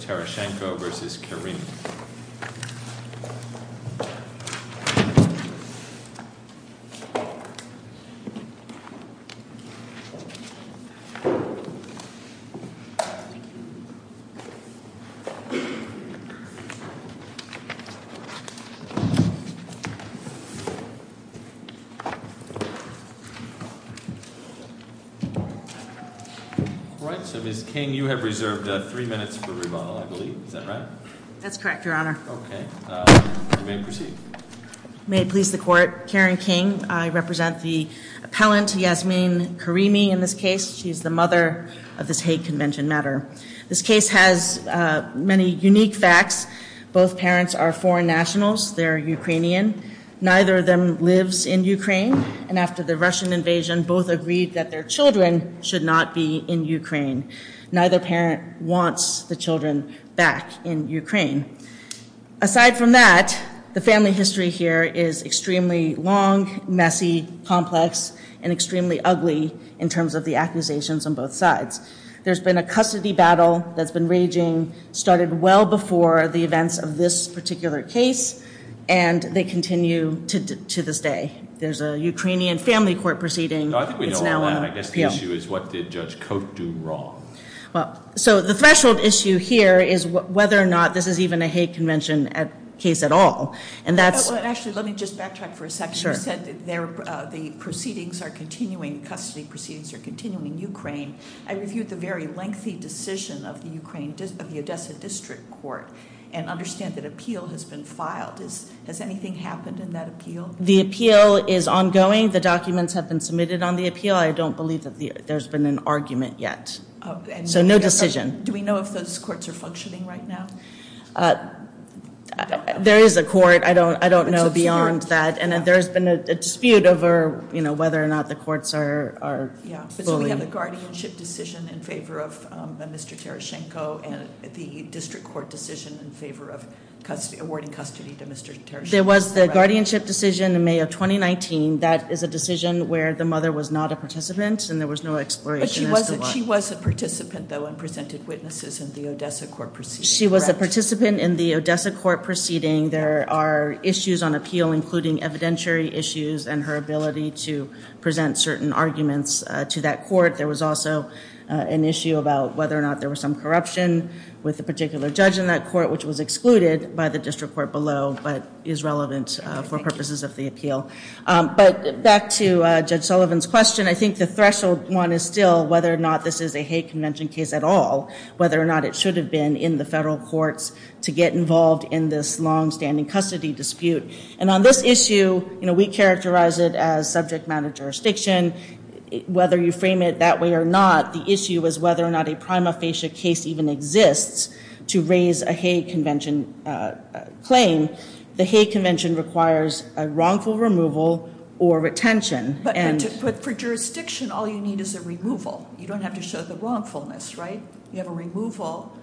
All right, so Ms. King, you have reserved three minutes for rebuttal. I believe, is that right? That's correct, Your Honor. Okay, you may proceed. May it please the Court, Karen King, I represent the appellant, Yasmin Karimi, in this case. She is the mother of this hate convention matter. This case has many unique facts. Both parents are foreign nationals. They're Ukrainian. Neither of them lives in Ukraine. And after the Russian invasion, both agreed that their children should not be in Ukraine. Neither parent wants the children back in Ukraine. Aside from that, the family history here is extremely long, messy, complex, and extremely ugly in terms of the accusations on both sides. There's been a custody battle that's been raging, started well before the events of this particular case, and they continue to this day. There's a Ukrainian family court proceeding that's now on appeal. I guess the issue is what did Judge Cote do wrong? So the threshold issue here is whether or not this is even a hate convention case at all. Actually, let me just backtrack for a second. You said the proceedings are continuing, custody proceedings are continuing in Ukraine. I reviewed the very lengthy decision of the Odessa District Court and understand that appeal has been filed. Has anything happened in that appeal? The appeal is ongoing. The documents have been submitted on the appeal. I don't believe that there's been an argument yet. So no decision. Do we know if those courts are functioning right now? There is a court. I don't know beyond that. And there's been a dispute over whether or not the courts are fully. So we have the guardianship decision in favor of Mr. Tereschenko and the district court decision in favor of awarding custody to Mr. Tereschenko. There was the guardianship decision in May of 2019. That is a decision where the mother was not a participant and there was no exploration as to why. But she was a participant, though, and presented witnesses in the Odessa court proceeding, correct? She was a participant in the Odessa court proceeding. There are issues on appeal, including evidentiary issues and her ability to present certain arguments to that court. There was also an issue about whether or not there was some corruption with a particular judge in that court, which was excluded by the district court below but is relevant for purposes of the appeal. But back to Judge Sullivan's question, I think the threshold one is still whether or not this is a hate convention case at all, whether or not it should have been in the federal courts to get involved in this longstanding custody dispute. And on this issue, we characterize it as subject matter jurisdiction. Whether you frame it that way or not, the issue is whether or not a prima facie case even exists to raise a hate convention claim. The hate convention requires a wrongful removal or retention. But for jurisdiction, all you need is a removal. You don't have to show the wrongfulness, right? You have a removal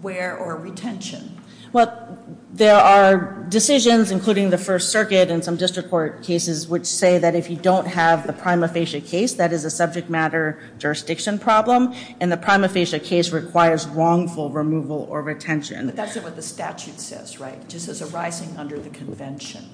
where or retention. Well, there are decisions, including the First Circuit and some district court cases, which say that if you don't have the prima facie case, that is a subject matter jurisdiction problem and the prima facie case requires wrongful removal or retention. But that's not what the statute says, right? It just says arising under the convention.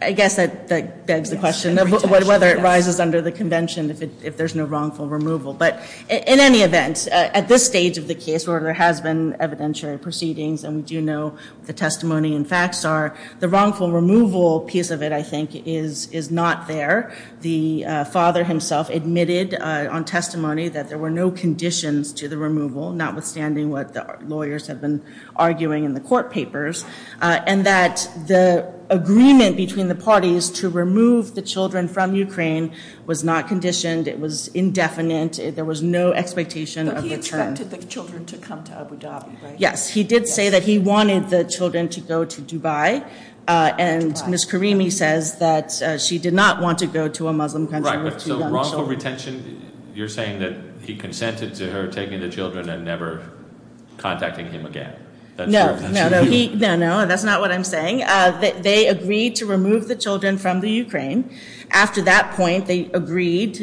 I guess that begs the question of whether it rises under the convention if there's no wrongful removal. But in any event, at this stage of the case where there has been evidentiary proceedings and we do know what the testimony and facts are, the wrongful removal piece of it, I think, is not there. The father himself admitted on testimony that there were no conditions to the removal, notwithstanding what the lawyers had been arguing in the court papers, and that the agreement between the parties to remove the children from Ukraine was not conditioned. It was indefinite. There was no expectation of return. But he expected the children to come to Abu Dhabi, right? Yes. He did say that he wanted the children to go to Dubai, and Ms. Karimi says that she did not want to go to a Muslim country with two young children. You're saying that he consented to her taking the children and never contacting him again. No, no, no. That's not what I'm saying. They agreed to remove the children from the Ukraine. After that point, they agreed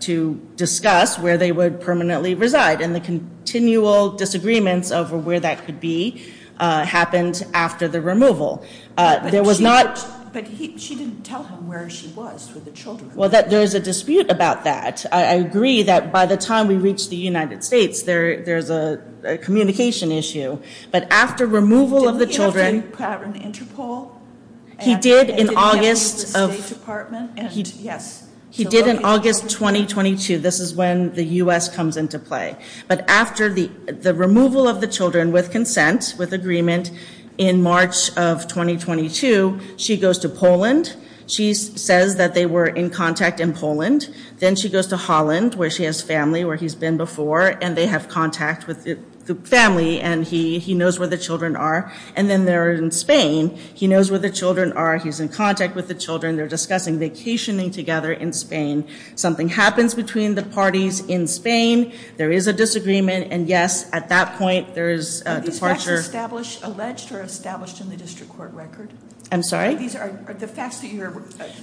to discuss where they would permanently reside, and the continual disagreements over where that could be happened after the removal. But she didn't tell him where she was with the children. Well, there is a dispute about that. I agree that by the time we reach the United States, there's a communication issue. But after removal of the children— Didn't he have to have an interpol? He did in August of— And did he have to leave the State Department? Yes. He did in August 2022. This is when the U.S. comes into play. But after the removal of the children with consent, with agreement, in March of 2022, she goes to Poland. She says that they were in contact in Poland. Then she goes to Holland, where she has family, where he's been before, and they have contact with the family. And he knows where the children are. And then they're in Spain. He knows where the children are. He's in contact with the children. They're discussing vacationing together in Spain. Something happens between the parties in Spain. There is a disagreement. And, yes, at that point, there is a departure. Are these facts established—alleged or established in the district court record? I'm sorry? The facts that you're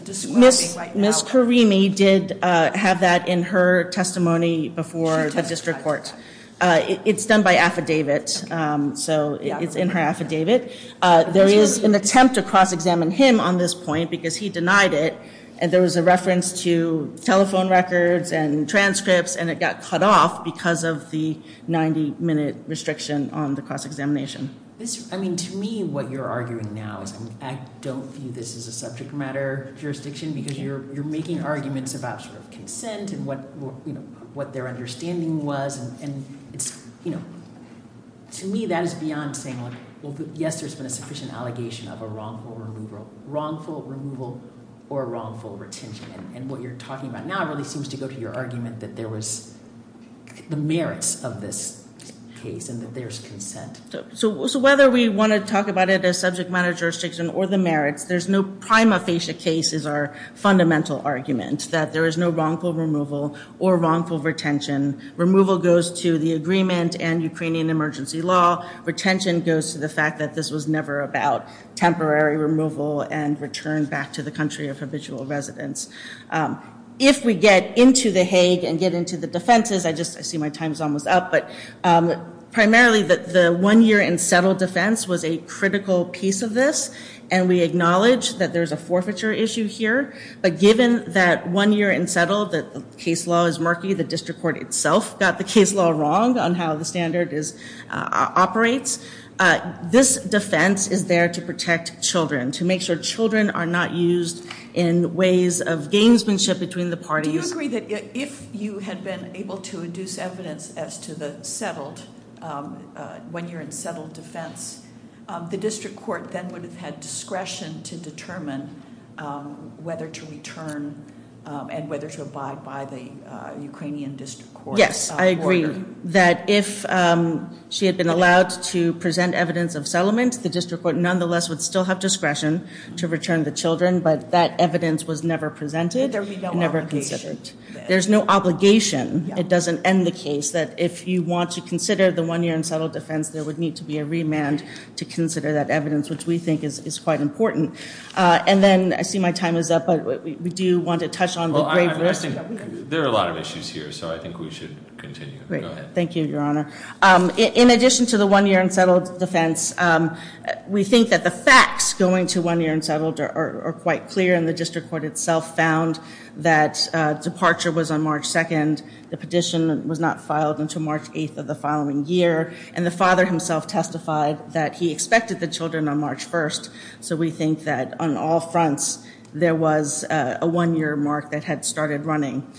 describing right now— Ms. Karimi did have that in her testimony before the district court. It's done by affidavit. So it's in her affidavit. There is an attempt to cross-examine him on this point because he denied it. And there was a reference to telephone records and transcripts. And it got cut off because of the 90-minute restriction on the cross-examination. I mean, to me, what you're arguing now is I don't view this as a subject matter jurisdiction because you're making arguments about sort of consent and what their understanding was. And, you know, to me, that is beyond saying, like, well, yes, there's been a sufficient allegation of a wrongful removal or wrongful retention. And what you're talking about now really seems to go to your argument that there was the merits of this case and that there's consent. So whether we want to talk about it as subject matter jurisdiction or the merits, there's no prima facie case is our fundamental argument, that there is no wrongful removal or wrongful retention. Removal goes to the agreement and Ukrainian emergency law. Retention goes to the fact that this was never about temporary removal and return back to the country of habitual residence. If we get into the Hague and get into the defenses— I see my time is almost up, but primarily the one-year and settle defense was a critical piece of this, and we acknowledge that there's a forfeiture issue here. But given that one year and settle, the case law is murky, the district court itself got the case law wrong on how the standard operates. This defense is there to protect children, to make sure children are not used in ways of gamesmanship between the parties. Do you agree that if you had been able to induce evidence as to the settled, when you're in settled defense, the district court then would have had discretion to determine whether to return and whether to abide by the Ukrainian district court order? Yes, I agree that if she had been allowed to present evidence of settlement, the district court nonetheless would still have discretion to return the children, but that evidence was never presented and never considered. There's no obligation. It doesn't end the case that if you want to consider the one-year and settle defense, there would need to be a remand to consider that evidence, which we think is quite important. And then I see my time is up, but we do want to touch on the grave risk. There are a lot of issues here, so I think we should continue. Thank you, Your Honor. In addition to the one-year and settle defense, we think that the facts going to one-year and settled are quite clear, and the district court itself found that departure was on March 2nd. The petition was not filed until March 8th of the following year, and the father himself testified that he expected the children on March 1st. So we think that on all fronts there was a one-year mark that had started running.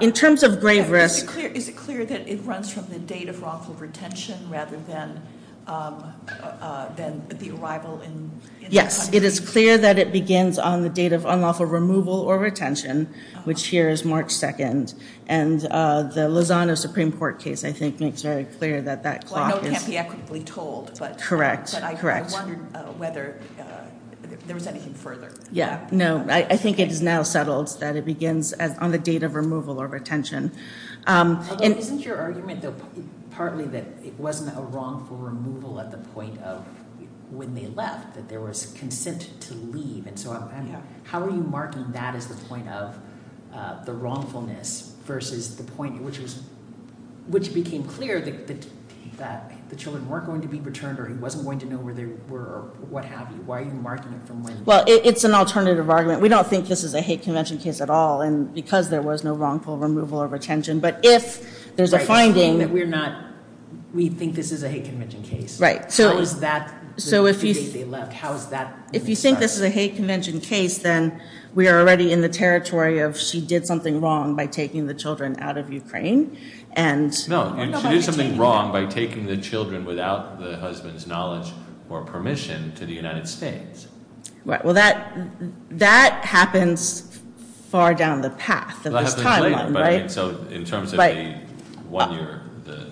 In terms of grave risk. Is it clear that it runs from the date of wrongful retention rather than the arrival? Yes. It is clear that it begins on the date of unlawful removal or retention, which here is March 2nd, and the Lozano Supreme Court case, I think, makes very clear that that clock is. Well, I know it can't be equitably told, but I wondered whether there was anything further. I think it is now settled that it begins on the date of removal or retention. Isn't your argument, though, partly that it wasn't a wrongful removal at the point of when they left, that there was consent to leave, and so on? How are you marking that as the point of the wrongfulness versus the point which became clear that the children weren't going to be returned or he wasn't going to know where they were or what have you? Why are you marking it from when? Well, it's an alternative argument. We don't think this is a hate convention case at all because there was no wrongful removal or retention. But if there's a finding— Right. You're saying that we think this is a hate convention case. Right. How is that the date they left? If you think this is a hate convention case, then we are already in the territory of she did something wrong by taking the children out of Ukraine. No. She did something wrong by taking the children without the husband's knowledge or permission to the United States. Right. Well, that happens far down the path of this timeline, right? So in terms of the one-year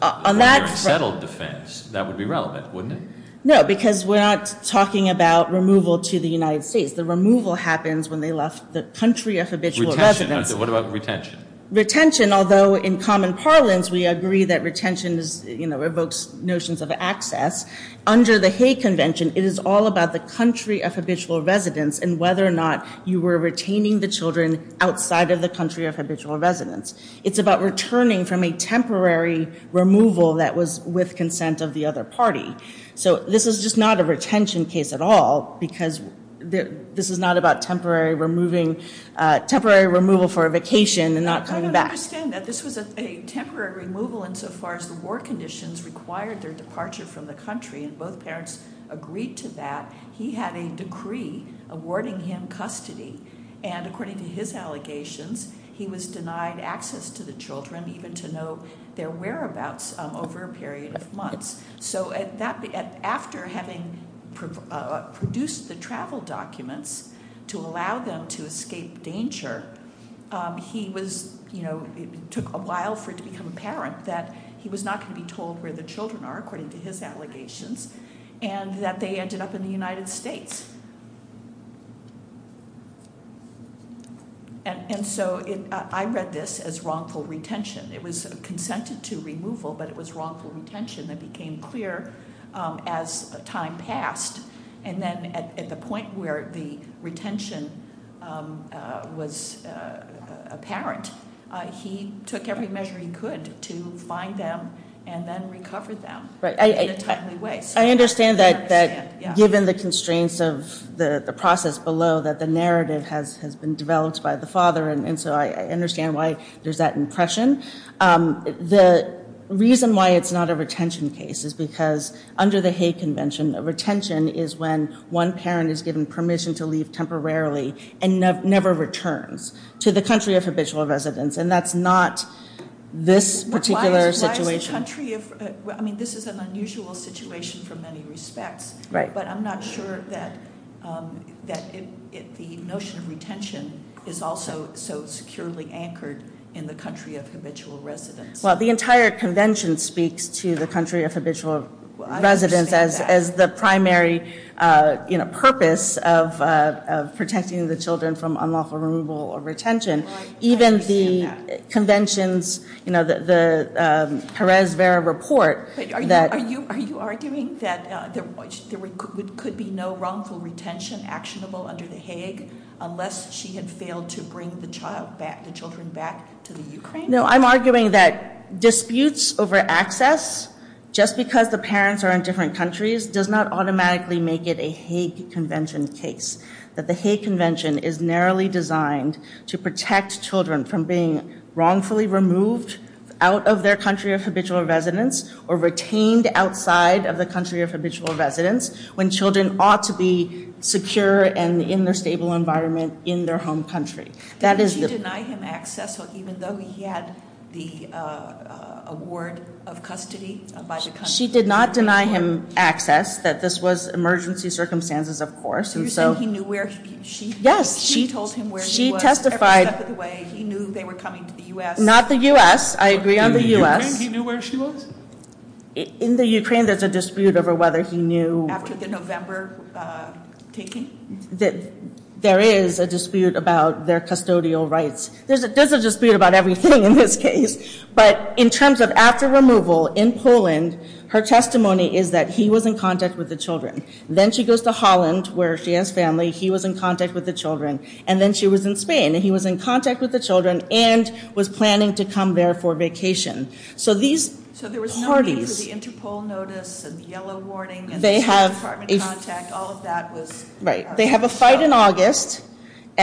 unsettled defense, that would be relevant, wouldn't it? No, because we're not talking about removal to the United States. The removal happens when they left the country of habitual residence. Retention. What about retention? Retention, although in common parlance we agree that retention evokes notions of access, under the hate convention it is all about the country of habitual residence and whether or not you were retaining the children outside of the country of habitual residence. It's about returning from a temporary removal that was with consent of the other party. So this is just not a retention case at all because this is not about temporary removal for a vacation and not coming back. I don't understand that. This was a temporary removal insofar as the war conditions required their departure from the country, and both parents agreed to that. He had a decree awarding him custody, and according to his allegations, he was denied access to the children, even to know their whereabouts, over a period of months. So after having produced the travel documents to allow them to escape danger, it took a while for it to become apparent that he was not going to be told where the children are, according to his allegations, and that they ended up in the United States. And so I read this as wrongful retention. It was consented to removal, but it was wrongful retention that became clear as time passed. And then at the point where the retention was apparent, he took every measure he could to find them and then recover them in a timely way. I understand that given the constraints of the process below that the narrative has been developed by the father, and so I understand why there's that impression. The reason why it's not a retention case is because under the Hague Convention, a retention is when one parent is given permission to leave temporarily and never returns to the country of habitual residence, and that's not this particular situation. Why is the country of ‑‑ I mean, this is an unusual situation for many respects, but I'm not sure that the notion of retention is also so securely anchored in the country of habitual residence. Well, the entire convention speaks to the country of habitual residence as the primary, you know, purpose of protecting the children from unlawful removal or retention. Right, I understand that. Even the conventions, you know, the Perez-Vera report that ‑‑ there could be no wrongful retention actionable under the Hague unless she had failed to bring the child back, the children back to the Ukraine. No, I'm arguing that disputes over access, just because the parents are in different countries, does not automatically make it a Hague Convention case, that the Hague Convention is narrowly designed to protect children from being wrongfully removed out of their country of habitual residence or retained outside of the country of habitual residence when children ought to be secure and in their stable environment in their home country. Did she deny him access, even though he had the award of custody by the country? She did not deny him access, that this was emergency circumstances, of course. You're saying he knew where he was? Yes. She told him where he was every step of the way, he knew they were coming to the U.S.? Not the U.S., I agree on the U.S. He knew where she was? In the Ukraine, there's a dispute over whether he knew ‑‑ After the November taking? There is a dispute about their custodial rights. There's a dispute about everything in this case, but in terms of after removal in Poland, her testimony is that he was in contact with the children. Then she goes to Holland, where she has family, he was in contact with the children. And then she was in Spain, and he was in contact with the children and was planning to come there for vacation. So these parties ‑‑ So there was no need for the Interpol notice and the yellow warning and the State Department contact, all of that was ‑‑ Right. They have a fight in August,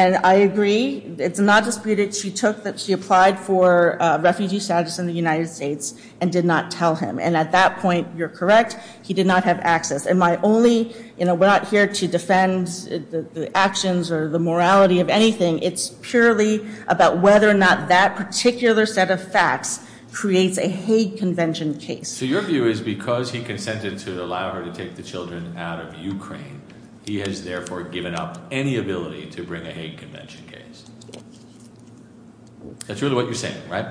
and I agree, it's not disputed, she took that she applied for refugee status in the United States and did not tell him. And at that point, you're correct, he did not have access. And my only ‑‑ we're not here to defend the actions or the morality of anything, it's purely about whether or not that particular set of facts creates a hate convention case. So your view is because he consented to allow her to take the children out of Ukraine, he has therefore given up any ability to bring a hate convention case. That's really what you're saying, right?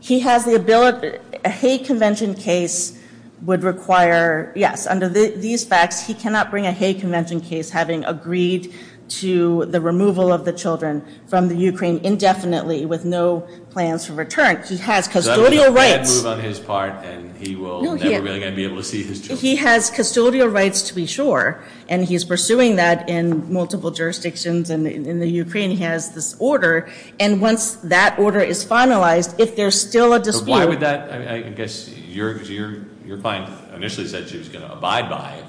He has the ability ‑‑ a hate convention case would require, yes, under these facts, he cannot bring a hate convention case having agreed to the removal of the children from the Ukraine indefinitely with no plans for return. He has custodial rights. Does that mean he can't move on his part and he will never really going to be able to see his children? He has custodial rights to be sure, and he's pursuing that in multiple jurisdictions, and in the Ukraine he has this order. And once that order is finalized, if there's still a dispute ‑‑ But why would that ‑‑ I guess your client initially said she was going to abide by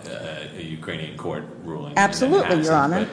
a Ukrainian court ruling. Absolutely, Your Honor.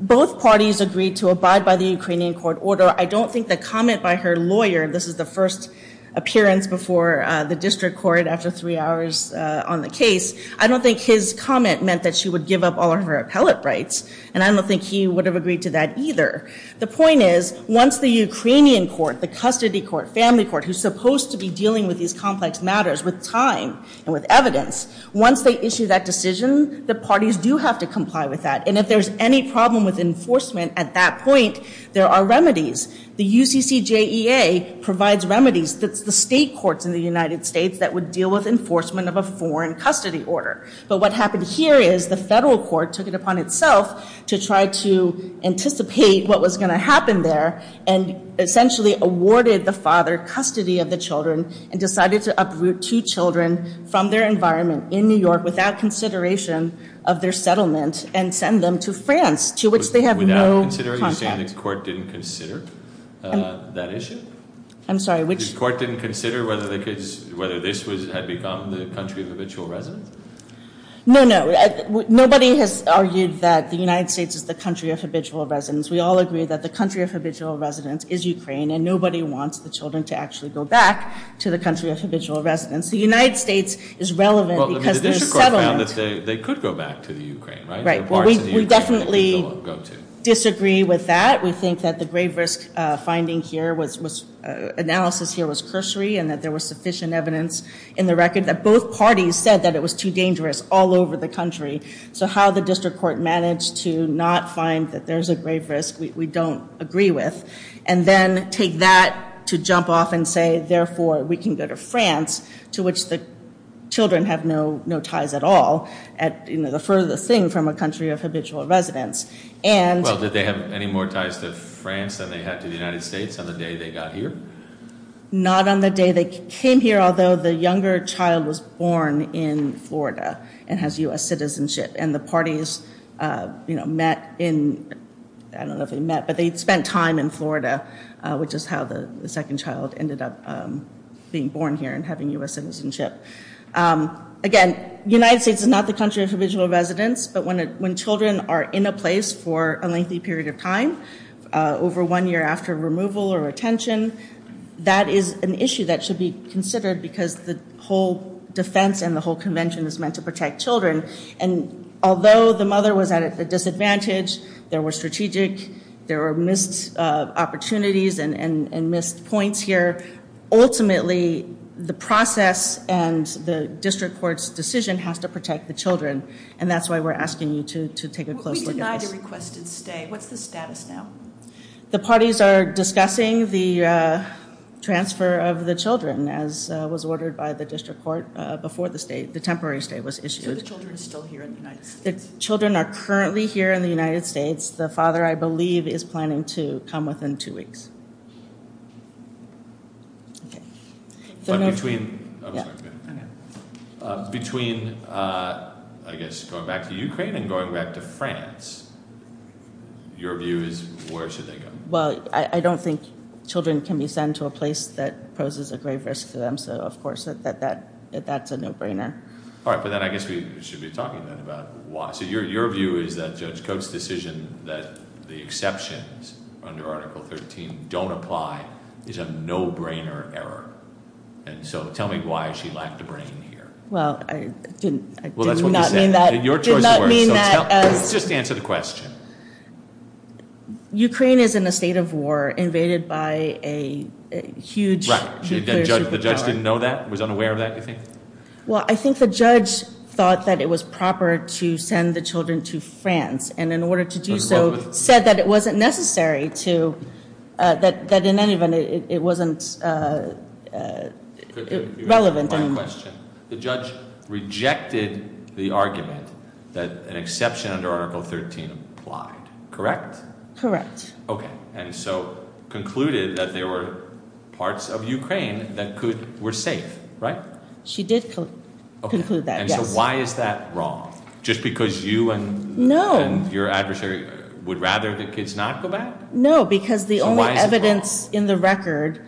Both parties agreed to abide by the Ukrainian court order. I don't think the comment by her lawyer, this is the first appearance before the district court after three hours on the case, I don't think his comment meant that she would give up all of her appellate rights. And I don't think he would have agreed to that either. The point is, once the Ukrainian court, the custody court, family court, who's supposed to be dealing with these complex matters with time and with evidence, once they issue that decision, the parties do have to comply with that. And if there's any problem with enforcement at that point, there are remedies. The UCCJEA provides remedies. That's the state courts in the United States that would deal with enforcement of a foreign custody order. But what happened here is the federal court took it upon itself to try to anticipate what was going to happen there and essentially awarded the father custody of the children and decided to uproot two children from their environment in New York without consideration of their settlement and send them to France, to which they have no contact. Without consideration? You're saying the court didn't consider that issue? I'm sorry, which ‑‑ No, no. Nobody has argued that the United States is the country of habitual residence. We all agree that the country of habitual residence is Ukraine and nobody wants the children to actually go back to the country of habitual residence. The United States is relevant because there's settlement. Well, the district court found that they could go back to the Ukraine, right? Right. Well, we definitely disagree with that. We think that the grave risk finding here was analysis here was cursory and that there was sufficient evidence in the record that both parties said that it was too dangerous all over the country. So how the district court managed to not find that there's a grave risk we don't agree with and then take that to jump off and say, therefore, we can go to France, to which the children have no ties at all, the furthest thing from a country of habitual residence. Well, did they have any more ties to France than they had to the United States on the day they got here? Not on the day they came here, although the younger child was born in Florida and has U.S. citizenship and the parties, you know, met in, I don't know if they met, but they spent time in Florida, which is how the second child ended up being born here and having U.S. citizenship. Again, the United States is not the country of habitual residence, but when children are in a place for a lengthy period of time, over one year after removal or retention, that is an issue that should be considered because the whole defense and the whole convention is meant to protect children. And although the mother was at a disadvantage, there were strategic, there were missed opportunities and missed points here, ultimately the process and the district court's decision has to protect the children, and that's why we're asking you to take a close look at this. What's the status now? The parties are discussing the transfer of the children, as was ordered by the district court before the state, the temporary stay was issued. So the children are still here in the United States? The children are currently here in the United States. The father, I believe, is planning to come within two weeks. Between, I guess, going back to Ukraine and going back to France, your view is where should they go? Well, I don't think children can be sent to a place that poses a grave risk to them, so of course that's a no-brainer. All right, but then I guess we should be talking then about why. So your view is that Judge Coates' decision that the exceptions under Article 13 don't apply is a no-brainer error, and so tell me why she lacked a brain here. Well, I did not mean that. Well, that's what you said. Your choice of words. Just answer the question. Ukraine is in a state of war invaded by a huge nuclear superpower. The judge didn't know that, was unaware of that, you think? Well, I think the judge thought that it was proper to send the children to France, and in order to do so said that it wasn't necessary to, that in any event it wasn't relevant anymore. My question, the judge rejected the argument that an exception under Article 13 applied, correct? Correct. Okay, and so concluded that there were parts of Ukraine that were safe, right? She did conclude that, yes. Okay, and so why is that wrong? Just because you and your adversary would rather the kids not go back? No, because the only evidence in the record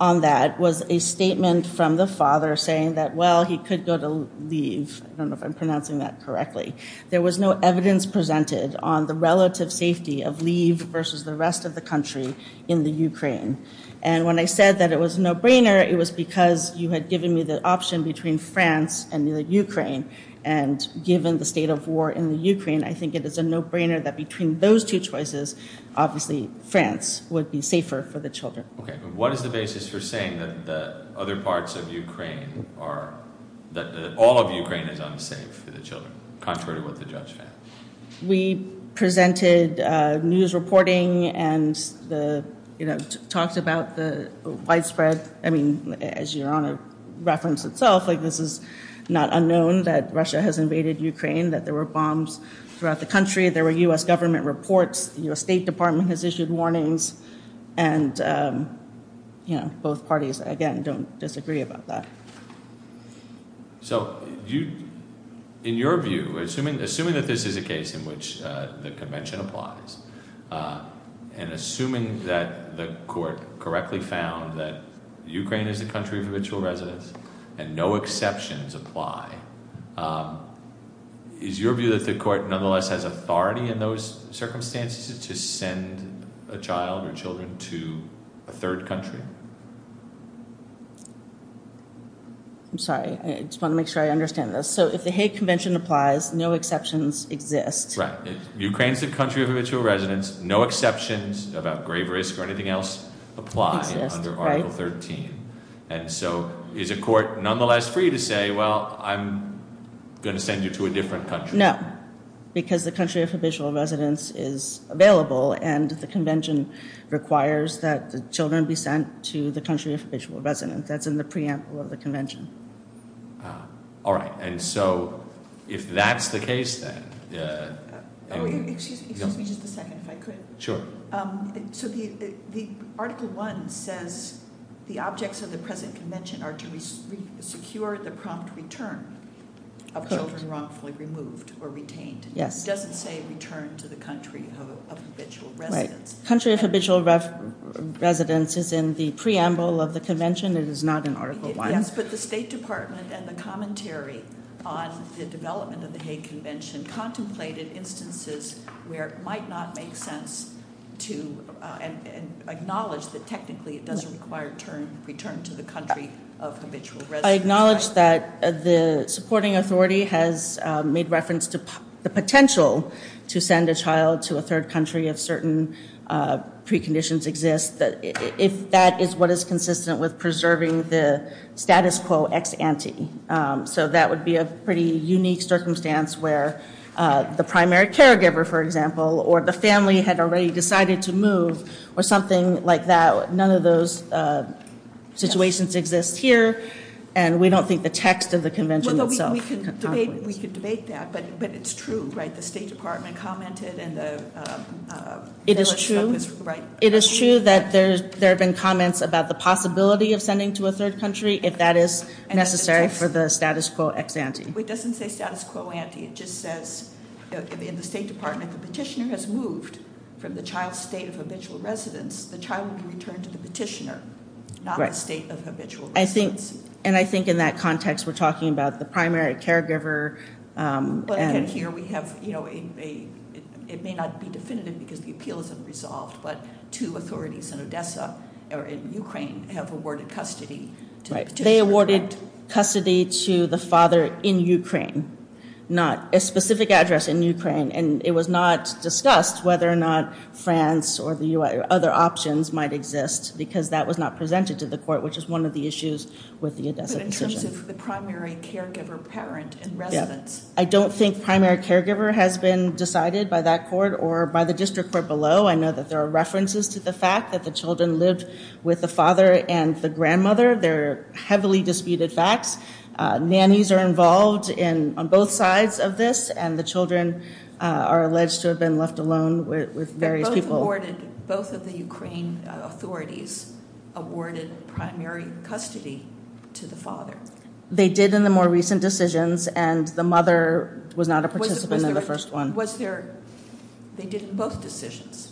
on that was a statement from the father saying that, well, he could go to leave. I don't know if I'm pronouncing that correctly. There was no evidence presented on the relative safety of leave versus the rest of the country in the Ukraine. And when I said that it was a no-brainer, it was because you had given me the option between France and Ukraine and given the state of war in the Ukraine, I think it is a no-brainer that between those two choices, obviously France would be safer for the children. Okay, but what is the basis for saying that the other parts of Ukraine are, that all of Ukraine is unsafe for the children, contrary to what the judge found? We presented news reporting and talked about the widespread, I mean, as Your Honor referenced itself, like this is not unknown that Russia has invaded Ukraine, that there were bombs throughout the country, there were U.S. government reports, the U.S. State Department has issued warnings, and both parties, again, don't disagree about that. So in your view, assuming that this is a case in which the convention applies, and assuming that the court correctly found that Ukraine is a country of habitual residents and no exceptions apply, is your view that the court nonetheless has authority in those circumstances to send a child or children to a third country? I'm sorry. I just want to make sure I understand this. So if the Hague Convention applies, no exceptions exist. Right. Ukraine is a country of habitual residents. No exceptions about grave risk or anything else apply under Article 13. And so is a court nonetheless free to say, well, I'm going to send you to a different country? No, because the country of habitual residence is available, and the convention requires that the children be sent to the country of habitual residence. That's in the preamble of the convention. All right. And so if that's the case, then. Excuse me just a second, if I could. Sure. So the Article 1 says the objects of the present convention are to secure the prompt return of children wrongfully removed or retained. Yes. It doesn't say return to the country of habitual residence. Right. Country of habitual residence is in the preamble of the convention. It is not in Article 1. Yes, but the State Department and the commentary on the development of the Hague Convention contemplated instances where it might not make sense to acknowledge that technically it doesn't require return to the country of habitual residence. I acknowledge that the supporting authority has made reference to the potential to send a child to a third country if certain preconditions exist, if that is what is consistent with preserving the status quo ex ante. So that would be a pretty unique circumstance where the primary caregiver, for example, or the family had already decided to move or something like that. None of those situations exist here. And we don't think the text of the convention itself. We could debate that, but it's true, right? The State Department commented. It is true. Right. It doesn't say status quo ante. It just says in the State Department the petitioner has moved from the child's state of habitual residence. The child will be returned to the petitioner, not the state of habitual residence. Right. And I think in that context we're talking about the primary caregiver. But again, here we have, you know, it may not be definitive because the appeal isn't resolved, but two authorities in Odessa or in Ukraine have awarded custody to the petitioner. They awarded custody to the father in Ukraine, not a specific address in Ukraine. And it was not discussed whether or not France or the U.S. or other options might exist because that was not presented to the court, which is one of the issues with the Odessa decision. But in terms of the primary caregiver parent in residence. I don't think primary caregiver has been decided by that court or by the district court below. I know that there are references to the fact that the children lived with the father and the grandmother. They're heavily disputed facts. Nannies are involved on both sides of this, and the children are alleged to have been left alone with various people. Both of the Ukraine authorities awarded primary custody to the father. They did in the more recent decisions, and the mother was not a participant in the first one. Was there, they did in both decisions.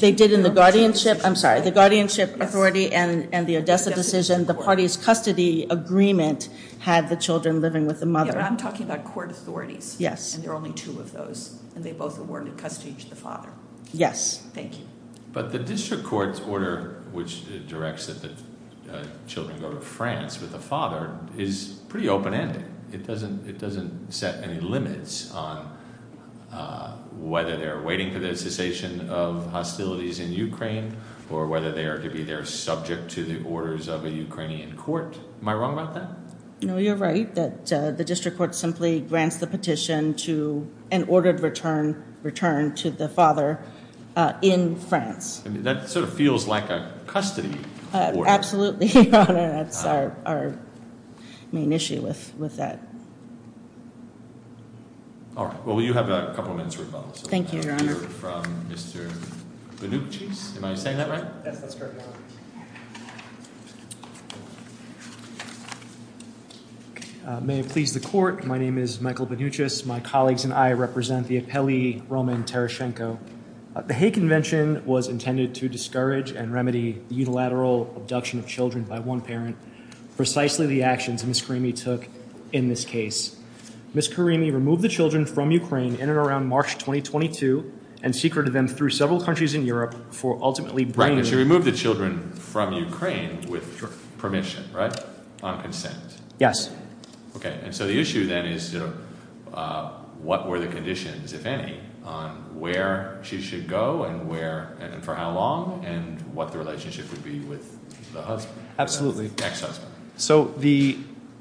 They did in the guardianship, I'm sorry, the guardianship authority and the Odessa decision. The party's custody agreement had the children living with the mother. I'm talking about court authorities. Yes. And there are only two of those, and they both awarded custody to the father. Yes. Thank you. But the district court's order, which directs that the children go to France with the father, is pretty open-ended. It doesn't set any limits on whether they're waiting for the cessation of hostilities in Ukraine, or whether they are to be there subject to the orders of a Ukrainian court. Am I wrong about that? No, you're right that the district court simply grants the petition to an ordered return to the father in France. That sort of feels like a custody order. Absolutely, Your Honor. That's our main issue with that. All right. Well, you have a couple of minutes to respond. Thank you, Your Honor. We'll hear from Mr. Benuchis. Am I saying that right? Yes, that's correct, Your Honor. May it please the court, my name is Michael Benuchis. My colleagues and I represent the appellee Roman Tereschenko. The Hague Convention was intended to discourage and remedy unilateral abduction of children by one parent, precisely the actions Ms. Karimi took in this case. Ms. Karimi removed the children from Ukraine in and around March 2022 and secreted them through several countries in Europe for ultimately bringing them to the U.S. She removed the children from Ukraine with permission, right? On consent. Yes. Okay, and so the issue then is what were the conditions, if any, on where she should go and where and for how long and what the relationship would be with the husband. Absolutely. Ex-husband. So the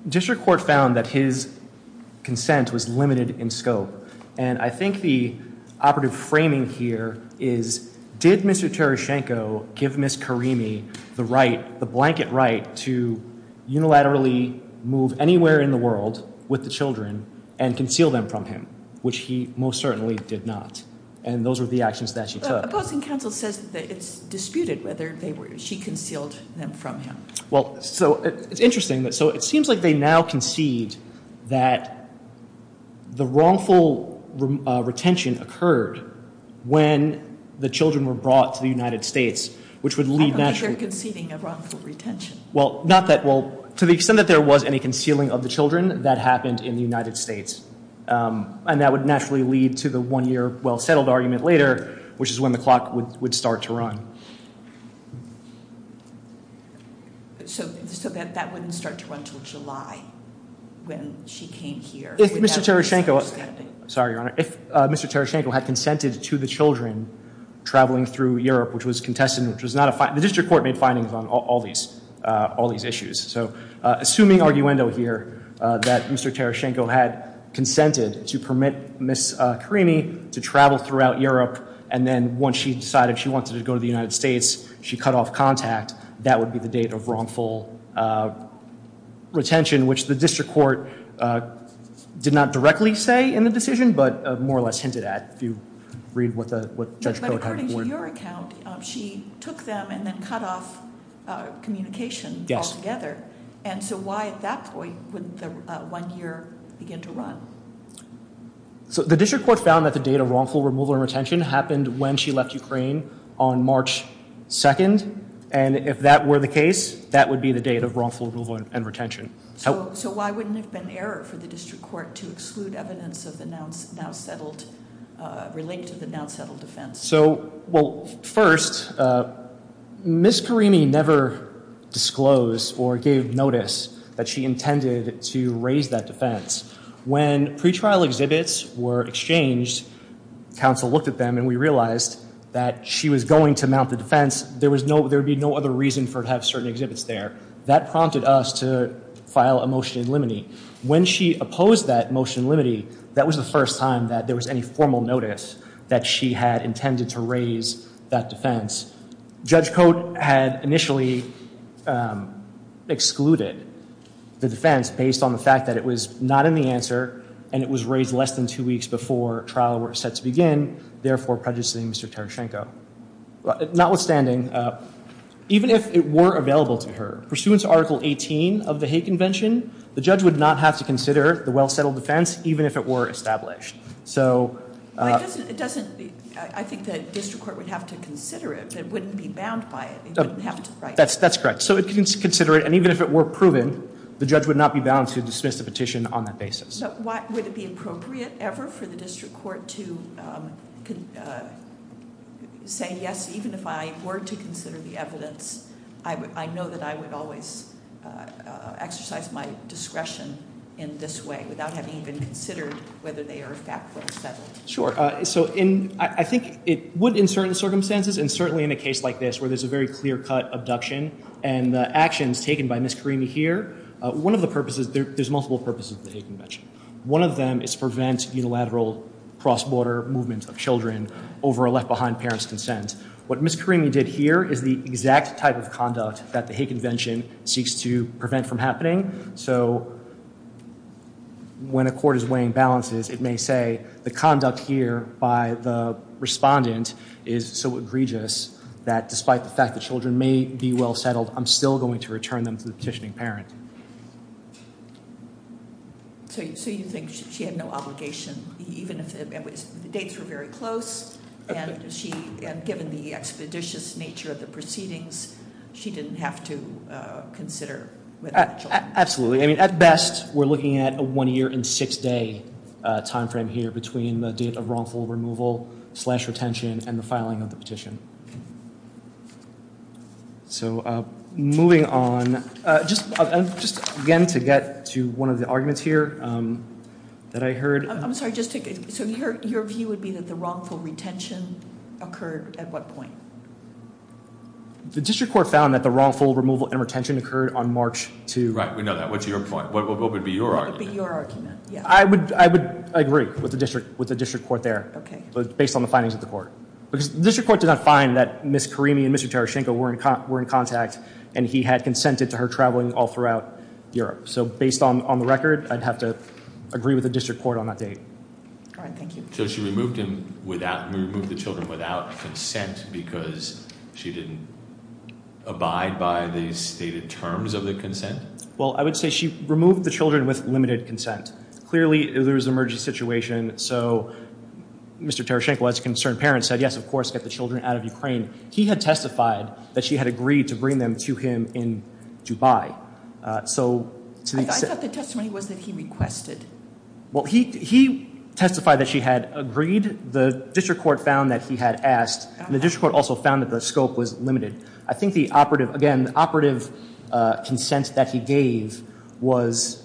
district court found that his consent was limited in scope, and I think the operative framing here is did Mr. Tereschenko give Ms. Karimi the right, unilaterally move anywhere in the world with the children and conceal them from him, which he most certainly did not, and those were the actions that she took. But opposing counsel says that it's disputed whether she concealed them from him. Well, so it's interesting. So it seems like they now concede that the wrongful retention occurred when the children were brought to the United States, which would lead naturally to Well, not that. Well, to the extent that there was any concealing of the children, that happened in the United States, and that would naturally lead to the one-year well-settled argument later, which is when the clock would start to run. So that wouldn't start to run until July when she came here? If Mr. Tereschenko, sorry, Your Honor, if Mr. Tereschenko had consented to the children traveling through Europe, which was contested and which was not a fine, the district court made findings on all these issues. So assuming arguendo here, that Mr. Tereschenko had consented to permit Ms. Karimi to travel throughout Europe, and then once she decided she wanted to go to the United States, she cut off contact, that would be the date of wrongful retention, which the district court did not directly say in the decision, but more or less hinted at, if you read what Judge Kodak had reported. But according to your account, she took them and then cut off communication altogether. Yes. And so why at that point would the one-year begin to run? So the district court found that the date of wrongful removal and retention happened when she left Ukraine on March 2nd, and if that were the case, that would be the date of wrongful removal and retention. So why wouldn't it have been error for the district court to exclude evidence of the now-settled, relinked to the now-settled defense? So, well, first, Ms. Karimi never disclosed or gave notice that she intended to raise that defense. When pretrial exhibits were exchanged, counsel looked at them and we realized that she was going to mount the defense. There would be no other reason for her to have certain exhibits there. That prompted us to file a motion in limine. When she opposed that motion in limine, that was the first time that there was any formal notice that she had intended to raise that defense. Judge Cote had initially excluded the defense based on the fact that it was not in the answer and it was raised less than two weeks before trial were set to begin, therefore prejudicing Mr. Tereschenko. Notwithstanding, even if it were available to her, pursuant to Article 18 of the Hague Convention, the judge would not have to consider the well-settled defense, even if it were established. It doesn't, I think the district court would have to consider it. It wouldn't be bound by it. That's correct. So it can consider it, and even if it were proven, the judge would not be bound to dismiss the petition on that basis. So would it be appropriate ever for the district court to say, yes, even if I were to consider the evidence, I know that I would always exercise my discretion in this way without having even considered whether they are factually settled? Sure. So I think it would in certain circumstances, and certainly in a case like this where there's a very clear-cut abduction and the actions taken by Ms. Karimi here, one of the purposes, there's multiple purposes of the Hague Convention. One of them is to prevent unilateral cross-border movement of children over a left-behind parent's consent. What Ms. Karimi did here is the exact type of conduct that the Hague Convention seeks to prevent from happening. So when a court is weighing balances, it may say the conduct here by the respondent is so egregious that despite the fact that children may be well settled, I'm still going to return them to the petitioning parent. So you think she had no obligation, even if the dates were very close, and given the expeditious nature of the proceedings, she didn't have to consider with the children? Absolutely. I mean, at best, we're looking at a one-year and six-day timeframe here between the date of wrongful removal slash retention and the filing of the petition. So moving on, just again to get to one of the arguments here that I heard. I'm sorry. So your view would be that the wrongful retention occurred at what point? The district court found that the wrongful removal and retention occurred on March 2. Right, we know that. What's your point? What would be your argument? What would be your argument? I would agree with the district court there, based on the findings of the court. Because the district court did not find that Ms. Karimi and Mr. Tereschenko were in contact, and he had consented to her traveling all throughout Europe. So based on the record, I'd have to agree with the district court on that date. All right, thank you. So she removed the children without consent because she didn't abide by the stated terms of the consent? Well, I would say she removed the children with limited consent. Clearly, there was an emergency situation, so Mr. Tereschenko, as a concerned parent, said, yes, of course, get the children out of Ukraine. He had testified that she had agreed to bring them to him in Dubai. I thought the testimony was that he requested. Well, he testified that she had agreed. The district court found that he had asked, and the district court also found that the scope was limited. I think the operative, again, operative consent that he gave was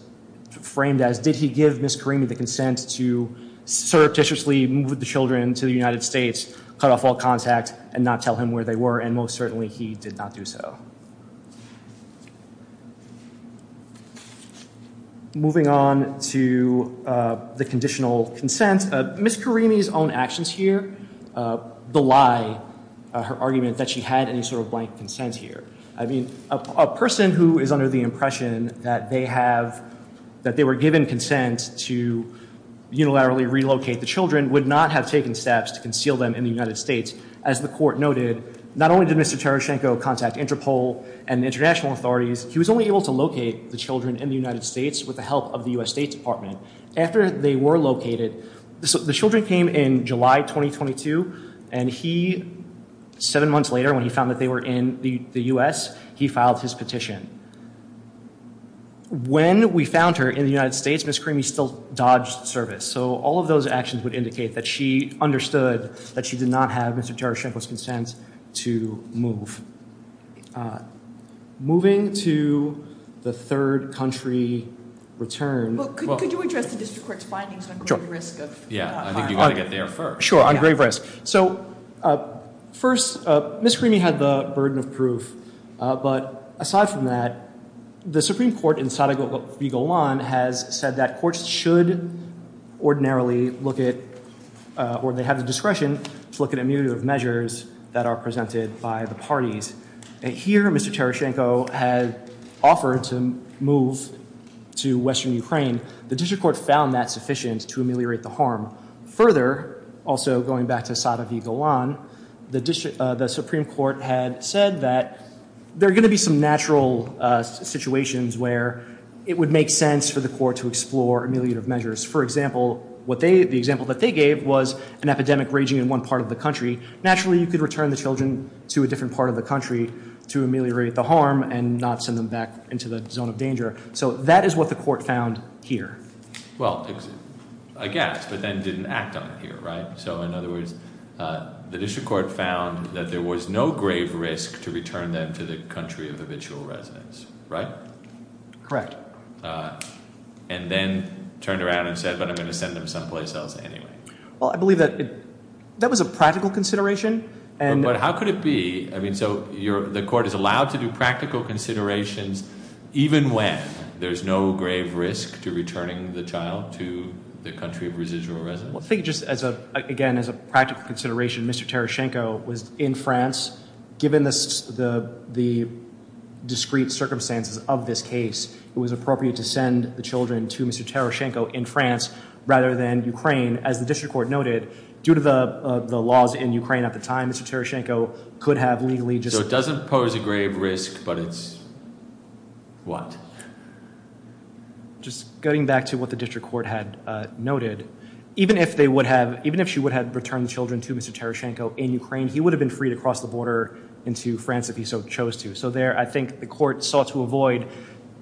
framed as, did he give Ms. Karimi the consent to surreptitiously move the children to the United States, cut off all contact, and not tell him where they were, and most certainly he did not do so. Moving on to the conditional consent, Ms. Karimi's own actions here belie her argument that she had any sort of blank consent here. I mean, a person who is under the impression that they were given consent to unilaterally relocate the children would not have taken steps to conceal them in the United States. As the court noted, not only did Mr. Tereschenko contact Interpol, and the international authorities, he was only able to locate the children in the United States with the help of the U.S. State Department. After they were located, the children came in July 2022, and he, seven months later when he found that they were in the U.S., he filed his petition. When we found her in the United States, Ms. Karimi still dodged service. So all of those actions would indicate that she understood that she did not have Mr. Tereschenko's consent to move. Moving to the third country return. Well, could you address the district court's findings on grave risk? Yeah, I think you've got to get there first. Sure, on grave risk. So first, Ms. Karimi had the burden of proof, but aside from that, the Supreme Court in Sadovyi Golan has said that courts should ordinarily look at, or they have the discretion to look at immutative measures that are presented by the parties. Here, Mr. Tereschenko had offered to move to Western Ukraine. The district court found that sufficient to ameliorate the harm. Further, also going back to Sadovyi Golan, the Supreme Court had said that there are going to be some natural situations where it would make sense for the court to explore ameliorative measures. For example, the example that they gave was an epidemic raging in one part of the country. Naturally, you could return the children to a different part of the country to ameliorate the harm and not send them back into the zone of danger. So that is what the court found here. Well, I guess, but then didn't act on it here, right? So in other words, the district court found that there was no grave risk to return them to the country of habitual residence, right? Correct. And then turned around and said, but I'm going to send them someplace else anyway. Well, I believe that was a practical consideration. But how could it be? I mean, so the court is allowed to do practical considerations even when there's no grave risk to returning the child to the country of residual residence? I think just, again, as a practical consideration, Mr. Tereschenko was in France. Given the discrete circumstances of this case, it was appropriate to send the children to Mr. Tereschenko in France rather than Ukraine. As the district court noted, due to the laws in Ukraine at the time, Mr. Tereschenko could have legally just— So it doesn't pose a grave risk, but it's what? Just getting back to what the district court had noted, even if they would have—even if she would have returned the children to Mr. Tereschenko in Ukraine, he would have been free to cross the border into France if he so chose to. So there, I think the court sought to avoid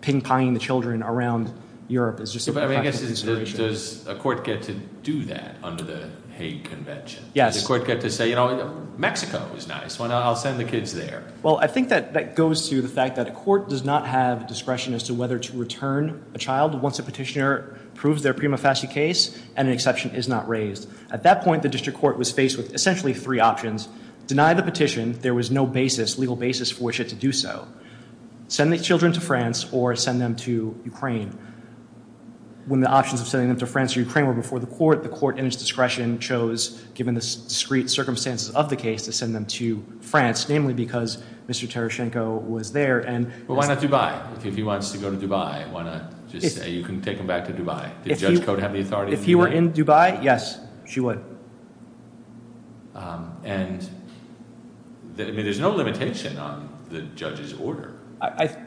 ping-ponging the children around Europe as just a practical consideration. I mean, I guess, does a court get to do that under the Hague Convention? Yes. Does the court get to say, you know, Mexico is nice. I'll send the kids there. Well, I think that goes to the fact that a court does not have discretion as to whether to return a child once a petitioner proves their prima facie case and an exception is not raised. At that point, the district court was faced with essentially three options. Deny the petition. There was no basis, legal basis for which it to do so. Send the children to France or send them to Ukraine. When the options of sending them to France or Ukraine were before the court, the court in its discretion chose, given the discrete circumstances of the case, to send them to France, namely because Mr. Tereschenko was there. Well, why not Dubai? If he wants to go to Dubai, why not just say you can take them back to Dubai? Did Judge Cote have the authority to do that? If he were in Dubai, yes, she would. And, I mean, there's no limitation on the judge's order.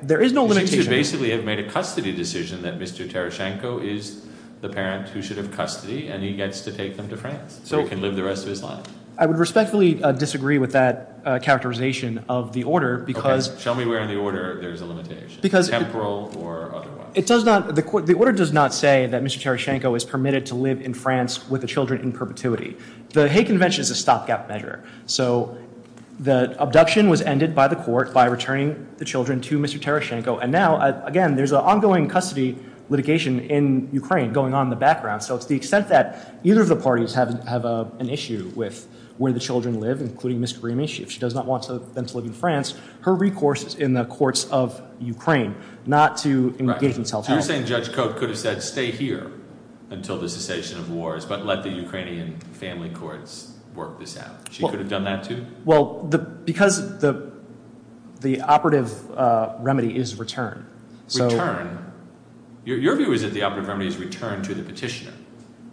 There is no limitation. She should basically have made a custody decision that Mr. Tereschenko is the parent who should have custody and he gets to take them to France so he can live the rest of his life. I would respectfully disagree with that characterization of the order because Okay, show me where in the order there's a limitation, temporal or otherwise. The order does not say that Mr. Tereschenko is permitted to live in France with the children in perpetuity. The Hague Convention is a stopgap measure. So the abduction was ended by the court by returning the children to Mr. Tereschenko. And now, again, there's an ongoing custody litigation in Ukraine going on in the background. So it's the extent that either of the parties have an issue with where the children live, including Ms. Grimish. If she does not want them to live in France, her recourse is in the courts of Ukraine not to engage in self-help. So you're saying Judge Cote could have said stay here until the cessation of wars but let the Ukrainian family courts work this out. She could have done that too? Well, because the operative remedy is return. Return? Your view is that the operative remedy is return to the petitioner.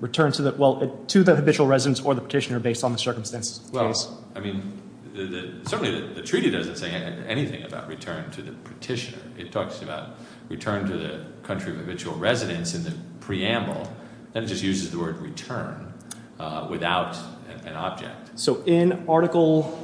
Return to the habitual residence or the petitioner based on the circumstances of the case. Well, I mean, certainly the treaty doesn't say anything about return to the petitioner. It talks about return to the country of habitual residence in the preamble. Then it just uses the word return without an object. So in Article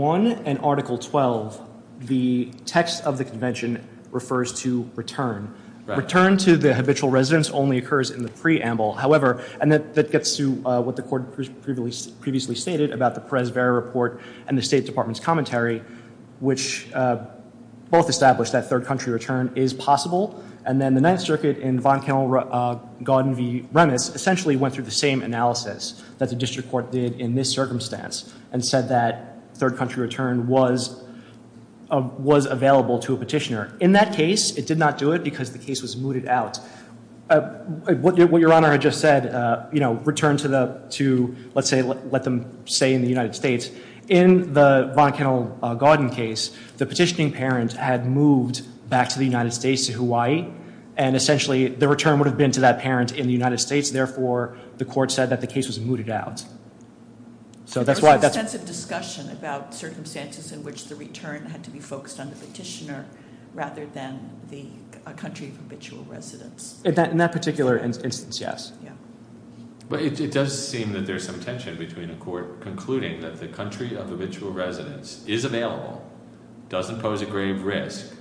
I and Article XII, the text of the convention refers to return. Return to the habitual residence only occurs in the preamble. However, and that gets to what the court previously stated about the Perez-Vera report and the State Department's commentary, which both established that third country return is possible. And then the Ninth Circuit in Von Kennel-Gauden v. Remis essentially went through the same analysis that the district court did in this circumstance and said that third country return was available to a petitioner. In that case, it did not do it because the case was mooted out. What Your Honor had just said, you know, return to, let's say, let them stay in the United States. In the Von Kennel-Gauden case, the petitioning parent had moved back to the United States, to Hawaii. And essentially, the return would have been to that parent in the United States. Therefore, the court said that the case was mooted out. So that's why that's- There was some sense of discussion about circumstances in which the return had to be focused on the petitioner rather than the country of habitual residence. In that particular instance, yes. But it does seem that there's some tension between a court concluding that the country of habitual residence is available, doesn't pose a grave risk,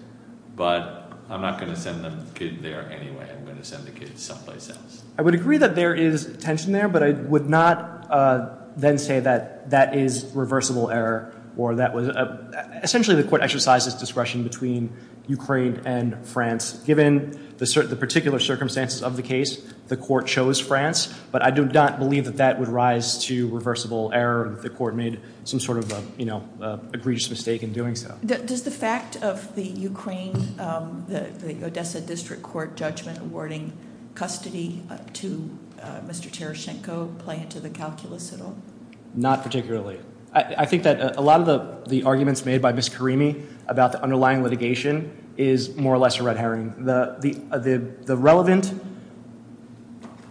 but I'm not going to send the kid there anyway. I'm going to send the kid someplace else. I would agree that there is tension there, but I would not then say that that is reversible error. Essentially, the court exercises discretion between Ukraine and France. Given the particular circumstances of the case, the court chose France. But I do not believe that that would rise to reversible error. The court made some sort of egregious mistake in doing so. Does the fact of the Ukraine, the Odessa District Court judgment, awarding custody to Mr. Tereschenko play into the calculus at all? Not particularly. I think that a lot of the arguments made by Ms. Karimi about the underlying litigation is more or less a red herring. The relevant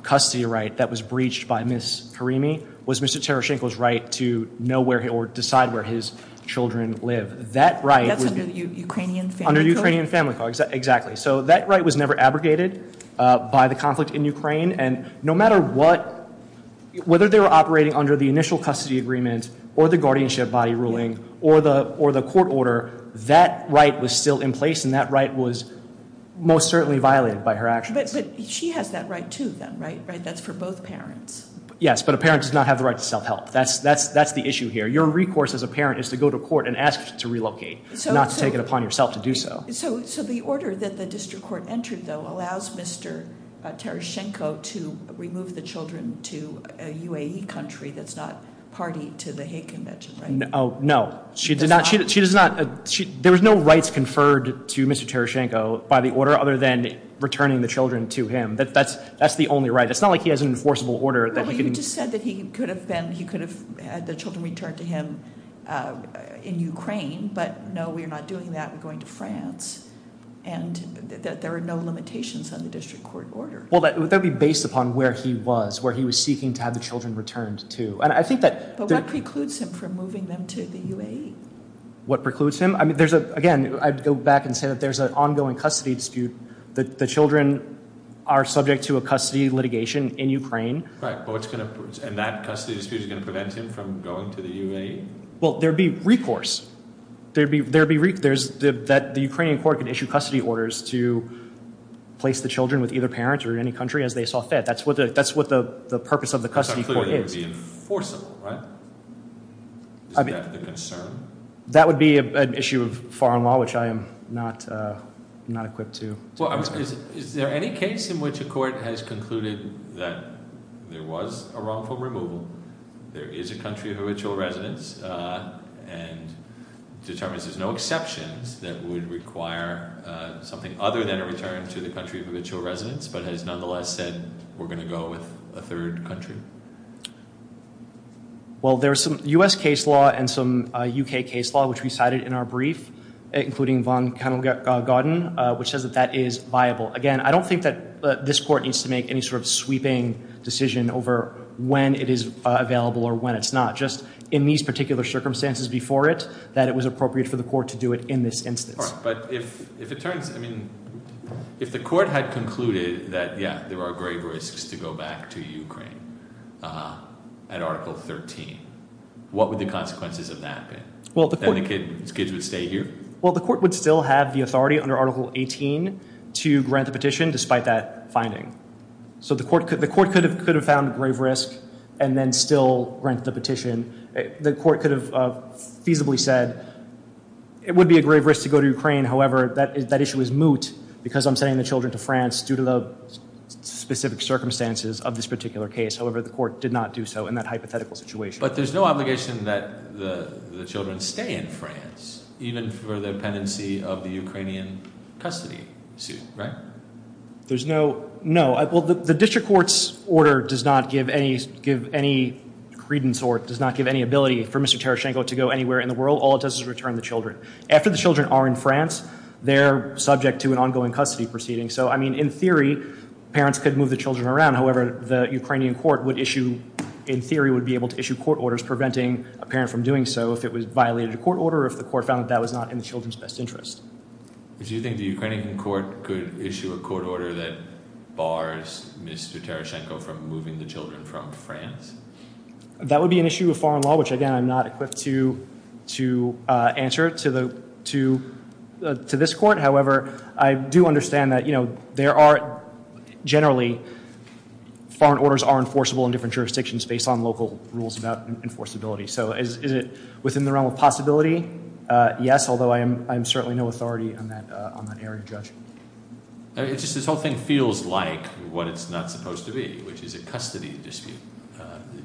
custody right that was breached by Ms. Karimi was Mr. Tereschenko's right to know where or decide where his children live. That right was- That's under the Ukrainian family code? Under the Ukrainian family code, exactly. And no matter what, whether they were operating under the initial custody agreement or the guardianship body ruling or the court order, that right was still in place and that right was most certainly violated by her actions. But she has that right, too, then, right? That's for both parents. Yes, but a parent does not have the right to self-help. That's the issue here. Your recourse as a parent is to go to court and ask to relocate, not to take it upon yourself to do so. So the order that the district court entered, though, allows Mr. Tereschenko to remove the children to a UAE country that's not party to the hate convention, right? No. She does not- There was no rights conferred to Mr. Tereschenko by the order other than returning the children to him. That's the only right. It's not like he has an enforceable order that he can- Well, you just said that he could have had the children returned to him in Ukraine, but no, we are not doing that. We're going to France, and there are no limitations on the district court order. Well, that would be based upon where he was, where he was seeking to have the children returned to. And I think that- But what precludes him from moving them to the UAE? What precludes him? Again, I'd go back and say that there's an ongoing custody dispute. The children are subject to a custody litigation in Ukraine. Right, and that custody dispute is going to prevent him from going to the UAE? Well, there would be recourse. There would be- That the Ukrainian court could issue custody orders to place the children with either parent or any country as they saw fit. That's what the purpose of the custody court is. It's not clear that it would be enforceable, right? Isn't that the concern? That would be an issue of foreign law, which I am not equipped to- Well, is there any case in which a court has concluded that there was a wrongful removal, there is a country of habitual residence, and determines there's no exceptions that would require something other than a return to the country of habitual residence, but has nonetheless said, we're going to go with a third country? Well, there's some U.S. case law and some U.K. case law, which we cited in our brief, including von Kennel-Gordon, which says that that is viable. Again, I don't think that this court needs to make any sort of sweeping decision over when it is available or when it's not. Just in these particular circumstances before it, that it was appropriate for the court to do it in this instance. All right, but if it turns- I mean, if the court had concluded that, yeah, there are grave risks to go back to Ukraine at Article 13, what would the consequences of that be? That the kids would stay here? Well, the court would still have the authority under Article 18 to grant the petition despite that finding. So the court could have found a grave risk and then still grant the petition. The court could have feasibly said, it would be a grave risk to go to Ukraine. However, that issue is moot because I'm sending the children to France due to the specific circumstances of this particular case. However, the court did not do so in that hypothetical situation. But there's no obligation that the children stay in France, even for the pendency of the Ukrainian custody suit, right? There's no- no. Well, the district court's order does not give any credence or it does not give any ability for Mr. Tereschenko to go anywhere in the world. All it does is return the children. After the children are in France, they're subject to an ongoing custody proceeding. So, I mean, in theory, parents could move the children around. However, the Ukrainian court would issue- in theory, would be able to issue court orders preventing a parent from doing so if it violated a court order or if the court found that that was not in the children's best interest. Do you think the Ukrainian court could issue a court order that bars Mr. Tereschenko from moving the children from France? That would be an issue of foreign law, which, again, I'm not equipped to answer to this court. However, I do understand that, you know, there are generally- foreign orders are enforceable in different jurisdictions based on local rules about enforceability. So, is it within the realm of possibility? Yes, although I am certainly no authority on that area, Judge. It's just this whole thing feels like what it's not supposed to be, which is a custody dispute.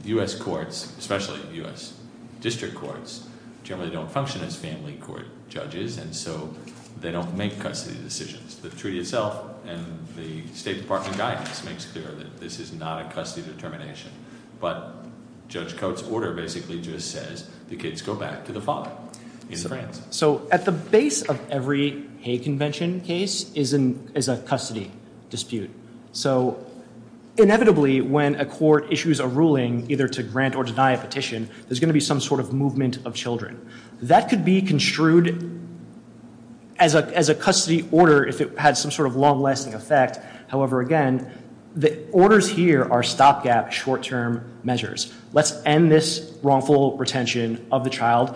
U.S. courts, especially U.S. district courts, generally don't function as family court judges, and so they don't make custody decisions. The treaty itself and the State Department guidance makes clear that this is not a custody determination. But Judge Coates' order basically just says the kids go back to the father in France. So, at the base of every Hague Convention case is a custody dispute. So, inevitably, when a court issues a ruling either to grant or deny a petition, there's going to be some sort of movement of children. That could be construed as a custody order if it had some sort of long-lasting effect. However, again, the orders here are stopgap short-term measures. Let's end this wrongful retention of the child,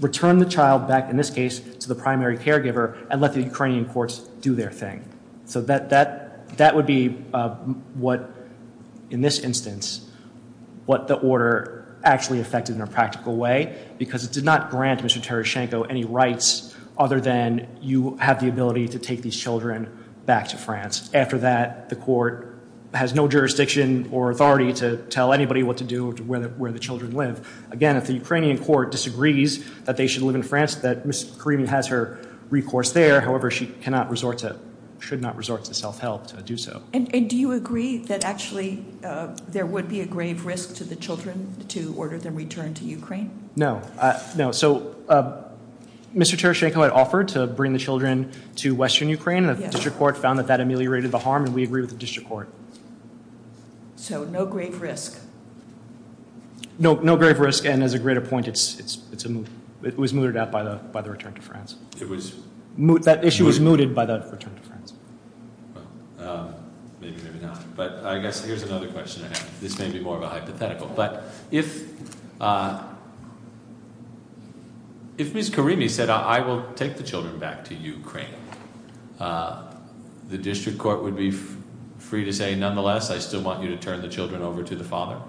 return the child back, in this case, to the primary caregiver, and let the Ukrainian courts do their thing. So, that would be what, in this instance, what the order actually affected in a practical way, because it did not grant Mr. Tereschenko any rights other than you have the ability to take these children back to France. After that, the court has no jurisdiction or authority to tell anybody what to do with where the children live. Again, if the Ukrainian court disagrees that they should live in France, that Ms. Karimi has her recourse there. However, she cannot resort to, should not resort to self-help to do so. And do you agree that actually there would be a grave risk to the children to order them returned to Ukraine? No. No. So, Mr. Tereschenko had offered to bring the children to western Ukraine, and the district court found that that ameliorated the harm, and we agree with the district court. So, no grave risk? No grave risk, and as a greater point, it was mooted out by the return to France. That issue was mooted by the return to France. Well, maybe, maybe not. But I guess here's another question I have. This may be more of a hypothetical. But if Ms. Karimi said, I will take the children back to Ukraine, the district court would be free to say, Well, Mr.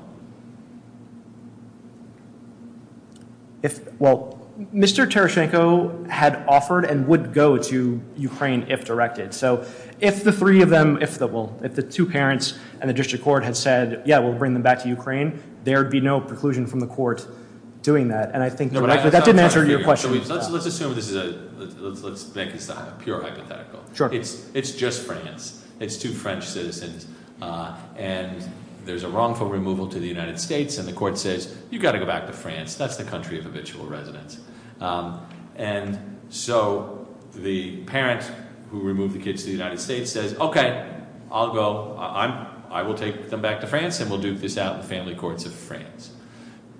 Tereschenko had offered and would go to Ukraine if directed. So, if the three of them, if the two parents and the district court had said, yeah, we'll bring them back to Ukraine, there would be no preclusion from the court doing that. And I think that didn't answer your question. Let's assume this is a, let's make this a pure hypothetical. It's just France. It's two French citizens. And there's a wrongful removal to the United States, and the court says, you've got to go back to France. That's the country of habitual residence. And so, the parent who removed the kids to the United States says, okay, I'll go. I will take them back to France, and we'll duke this out in the family courts of France.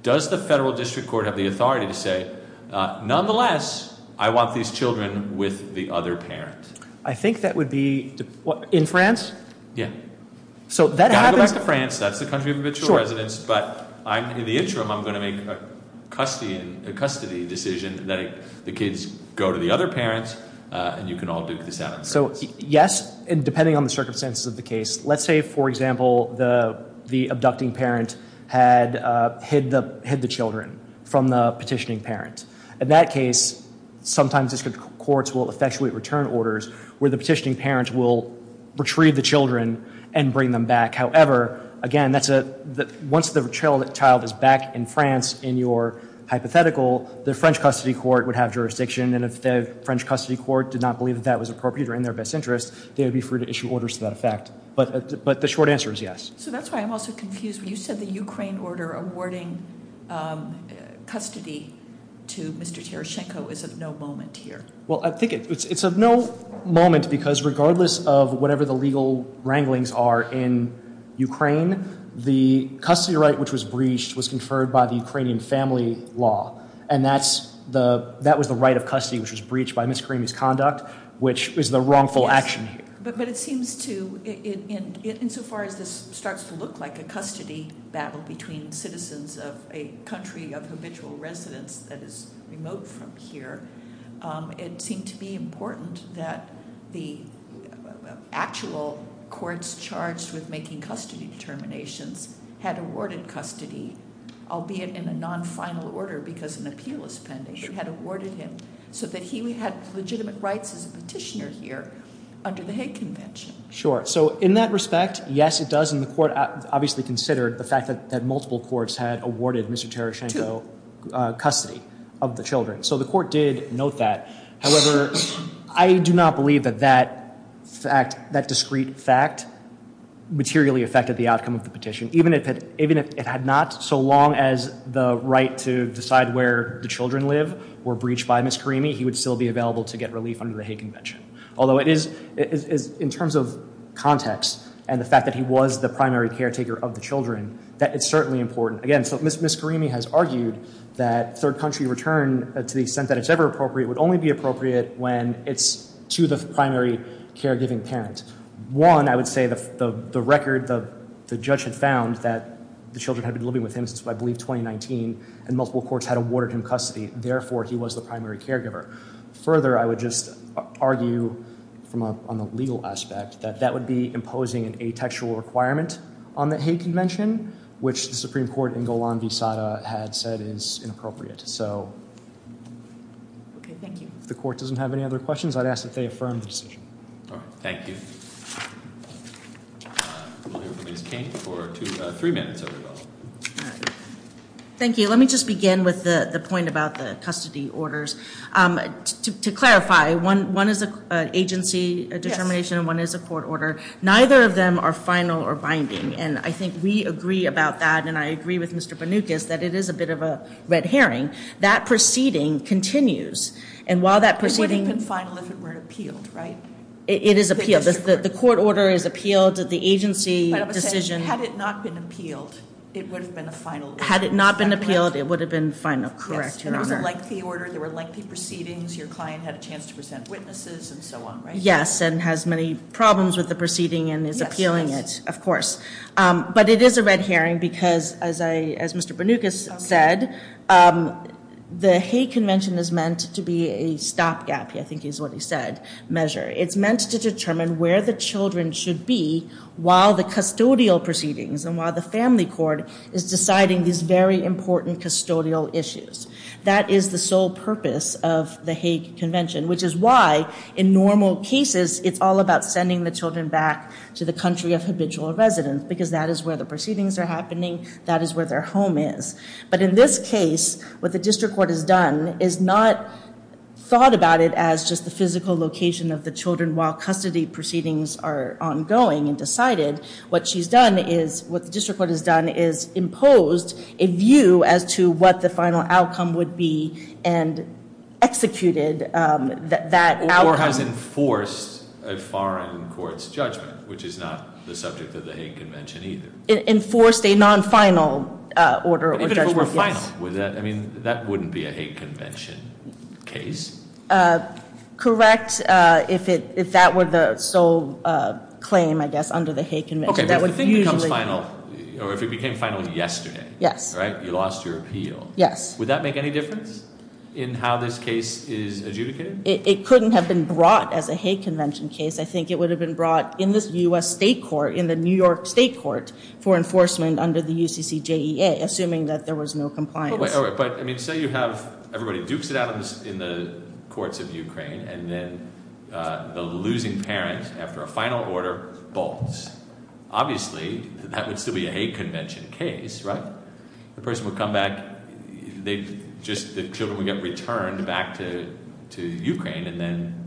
Does the federal district court have the authority to say, nonetheless, I want these children with the other parent? I think that would be, in France? Yeah. So, that happens. You've got to go back to France. That's the country of habitual residence. But in the interim, I'm going to make a custody decision, letting the kids go to the other parents, and you can all duke this out in France. So, yes, depending on the circumstances of the case. Let's say, for example, the abducting parent had hid the children from the petitioning parent. In that case, sometimes district courts will effectuate return orders where the petitioning parent will retrieve the children and bring them back. However, again, once the child is back in France in your hypothetical, the French custody court would have jurisdiction. And if the French custody court did not believe that that was appropriate or in their best interest, they would be free to issue orders to that effect. But the short answer is yes. So, that's why I'm also confused. You said the Ukraine order awarding custody to Mr. Tereschenko is of no moment here. Well, I think it's of no moment, because regardless of whatever the legal wranglings are in Ukraine, the custody right which was breached was conferred by the Ukrainian family law. And that was the right of custody which was breached by Ms. Kramy's conduct, which is the wrongful action here. But it seems to, insofar as this starts to look like a custody battle between citizens of a country of habitual residents that is remote from here, it seemed to be important that the actual courts charged with making custody determinations had awarded custody, albeit in a non-final order because an appeal is pending. They had awarded him so that he had legitimate rights as a petitioner here under the Hague Convention. Sure. So, in that respect, yes, it does. And the court obviously considered the fact that multiple courts had awarded Mr. Tereschenko custody of the children. So the court did note that. However, I do not believe that that discrete fact materially affected the outcome of the petition. Even if it had not, so long as the right to decide where the children live were breached by Ms. Kramy, he would still be available to get relief under the Hague Convention. Although, in terms of context and the fact that he was the primary caretaker of the children, that is certainly important. Again, so Ms. Kramy has argued that third country return, to the extent that it's ever appropriate, would only be appropriate when it's to the primary caregiving parent. One, I would say the record, the judge had found that the children had been living with him since, I believe, 2019, and multiple courts had awarded him custody. Therefore, he was the primary caregiver. Further, I would just argue on the legal aspect that that would be imposing an atextual requirement on the Hague Convention, which the Supreme Court in Golan v. Sada had said is inappropriate. So if the court doesn't have any other questions, I'd ask that they affirm the decision. Thank you. We'll hear from Ms. Kane for three minutes. Thank you. Let me just begin with the point about the custody orders. To clarify, one is an agency determination and one is a court order. Neither of them are final or binding. And I think we agree about that, and I agree with Mr. Banukas, that it is a bit of a red herring. That proceeding continues. And while that proceeding- It wouldn't have been final if it weren't appealed, right? It is appealed. The court order is appealed. The agency decision- Had it not been appealed, it would have been a final. Had it not been appealed, it would have been final. Correct, Your Honor. It was a lengthy order. There were lengthy proceedings. Your client had a chance to present witnesses and so on, right? Yes, and has many problems with the proceeding and is appealing it, of course. But it is a red herring because, as Mr. Banukas said, the Hague Convention is meant to be a stopgap, I think is what he said, measure. It's meant to determine where the children should be while the custodial proceedings and while the family court is deciding these very important custodial issues. That is the sole purpose of the Hague Convention, which is why, in normal cases, it's all about sending the children back to the country of habitual residence because that is where the proceedings are happening. That is where their home is. But in this case, what the district court has done is not thought about it as just the physical location of the children while custody proceedings are ongoing and decided. What the district court has done is imposed a view as to what the final outcome would be and executed that outcome. Or has enforced a foreign court's judgment, which is not the subject of the Hague Convention either. Enforced a non-final order or judgment, yes. Even if it were final, that wouldn't be a Hague Convention case. Correct, if that were the sole claim, I guess, under the Hague Convention. Okay, but if the thing becomes final, or if it became final yesterday, right, you lost your appeal. Yes. Would that make any difference in how this case is adjudicated? It couldn't have been brought as a Hague Convention case. I think it would have been brought in this U.S. state court, in the New York state court, for enforcement under the UCCJEA, assuming that there was no compliance. But, I mean, say you have, everybody dukes it out in the courts of Ukraine, and then the losing parent, after a final order, bolts. Obviously, that would still be a Hague Convention case, right? The person would come back, the children would get returned back to Ukraine, and then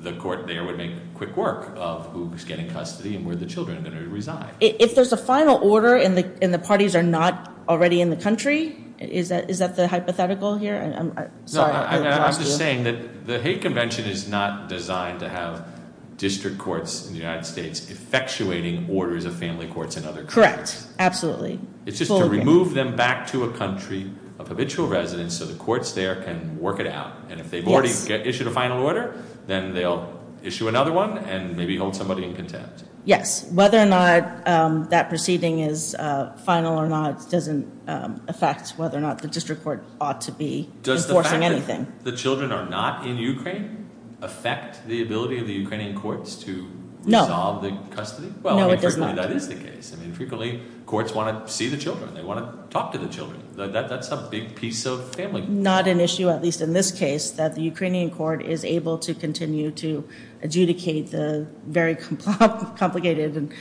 the court there would make quick work of who's getting custody and where the children are going to reside. If there's a final order, and the parties are not already in the country, is that the hypothetical here? I'm just saying that the Hague Convention is not designed to have district courts in the United States effectuating orders of family courts in other countries. Correct, absolutely. It's just to remove them back to a country of habitual residents, so the courts there can work it out. And if they've already issued a final order, then they'll issue another one, and maybe hold somebody in contempt. Yes, whether or not that proceeding is final or not doesn't affect whether or not the district court ought to be enforcing anything. Does the fact that the children are not in Ukraine affect the ability of the Ukrainian courts to resolve the custody? No, it does not. Well, I mean, frequently that is the case. I mean, frequently courts want to see the children. They want to talk to the children. That's a big piece of family law. It's not an issue, at least in this case, that the Ukrainian court is able to continue to adjudicate the very complicated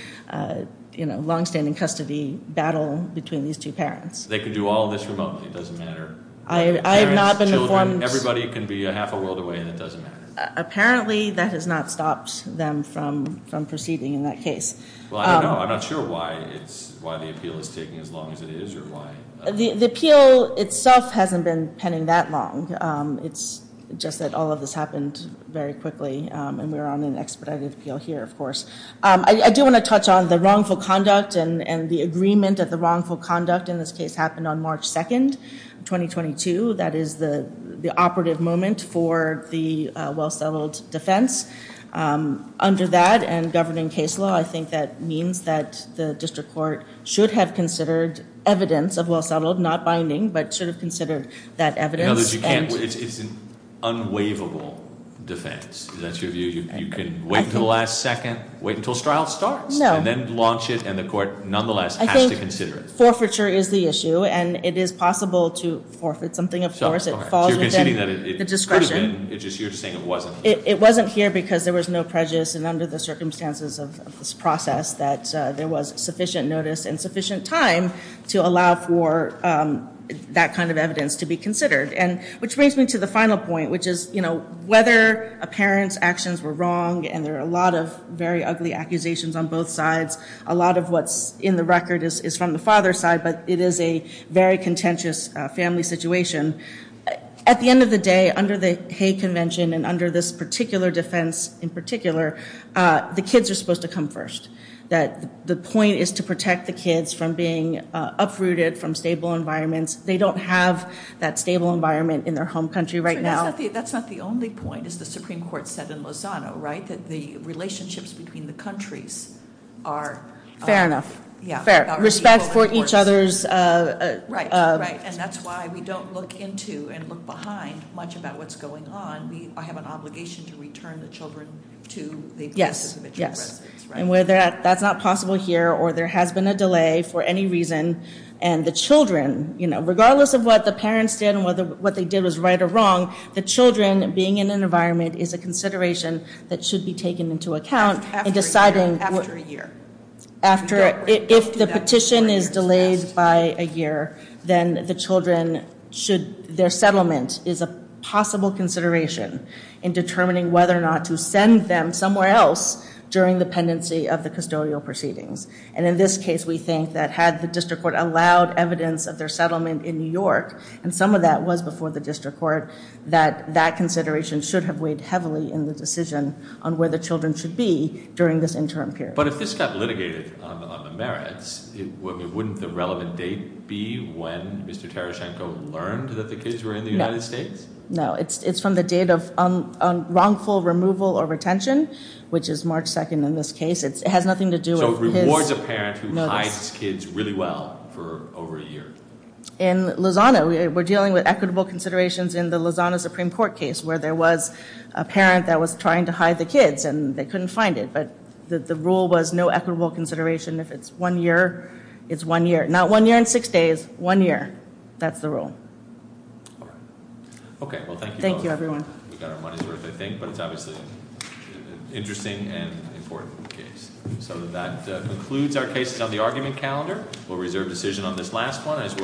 and longstanding custody battle between these two parents. They can do all this remotely. It doesn't matter. Parents, children, everybody can be a half a world away, and it doesn't matter. Apparently, that has not stopped them from proceeding in that case. Well, I don't know. I'm not sure why the appeal is taking as long as it is, or why. The appeal itself hasn't been pending that long. It's just that all of this happened very quickly, and we're on an expedited appeal here, of course. I do want to touch on the wrongful conduct and the agreement that the wrongful conduct in this case happened on March 2nd, 2022. That is the operative moment for the well-settled defense. Under that and governing case law, I think that means that the district court should have considered evidence of well-settled. Not binding, but should have considered that evidence. In other words, you can't. It's an unwaivable defense. Is that your view? You can wait until the last second. Wait until trial starts. No. And then launch it, and the court, nonetheless, has to consider it. I think forfeiture is the issue, and it is possible to forfeit something, of course. It falls within the discretion. So you're saying that it could have been. You're just saying it wasn't. It wasn't here because there was no prejudice, and under the circumstances of this process, that there was sufficient notice and sufficient time to allow for that kind of evidence to be considered. Which brings me to the final point, which is whether a parent's actions were wrong, and there are a lot of very ugly accusations on both sides. A lot of what's in the record is from the father's side, but it is a very contentious family situation. At the end of the day, under the Hay Convention and under this particular defense in particular, the kids are supposed to come first. The point is to protect the kids from being uprooted from stable environments. They don't have that stable environment in their home country right now. That's not the only point, as the Supreme Court said in Lozano, right, that the relationships between the countries are. Fair enough. Respect for each other's. Right, right, and that's why we don't look into and look behind much about what's going on. I have an obligation to return the children to the place of admission in residence. Yes, yes, and whether that's not possible here or there has been a delay for any reason, and the children, regardless of what the parents did and whether what they did was right or wrong, the children being in an environment is a consideration that should be taken into account in deciding. After a year. If the petition is delayed by a year, then the children should, their settlement is a possible consideration in determining whether or not to send them somewhere else during the pendency of the custodial proceedings. And in this case, we think that had the district court allowed evidence of their settlement in New York, and some of that was before the district court, that that consideration should have weighed heavily in the decision on where the children should be during this interim period. But if this got litigated on the merits, wouldn't the relevant date be when Mr. Tereschenko learned that the kids were in the United States? No, it's from the date of wrongful removal or retention, which is March 2nd in this case. It has nothing to do with his... So it rewards a parent who hides his kids really well for over a year. In Lozano, we're dealing with equitable considerations in the Lozano Supreme Court case where there was a parent that was trying to hide the kids and they couldn't find it, but the rule was no equitable consideration. If it's one year, it's one year. Not one year and six days, one year. That's the rule. All right. Okay, well, thank you. Thank you, everyone. We got our money's worth, I think, but it's obviously an interesting and important case. So that concludes our cases on the argument calendar. We'll reserve decision on this last one as well.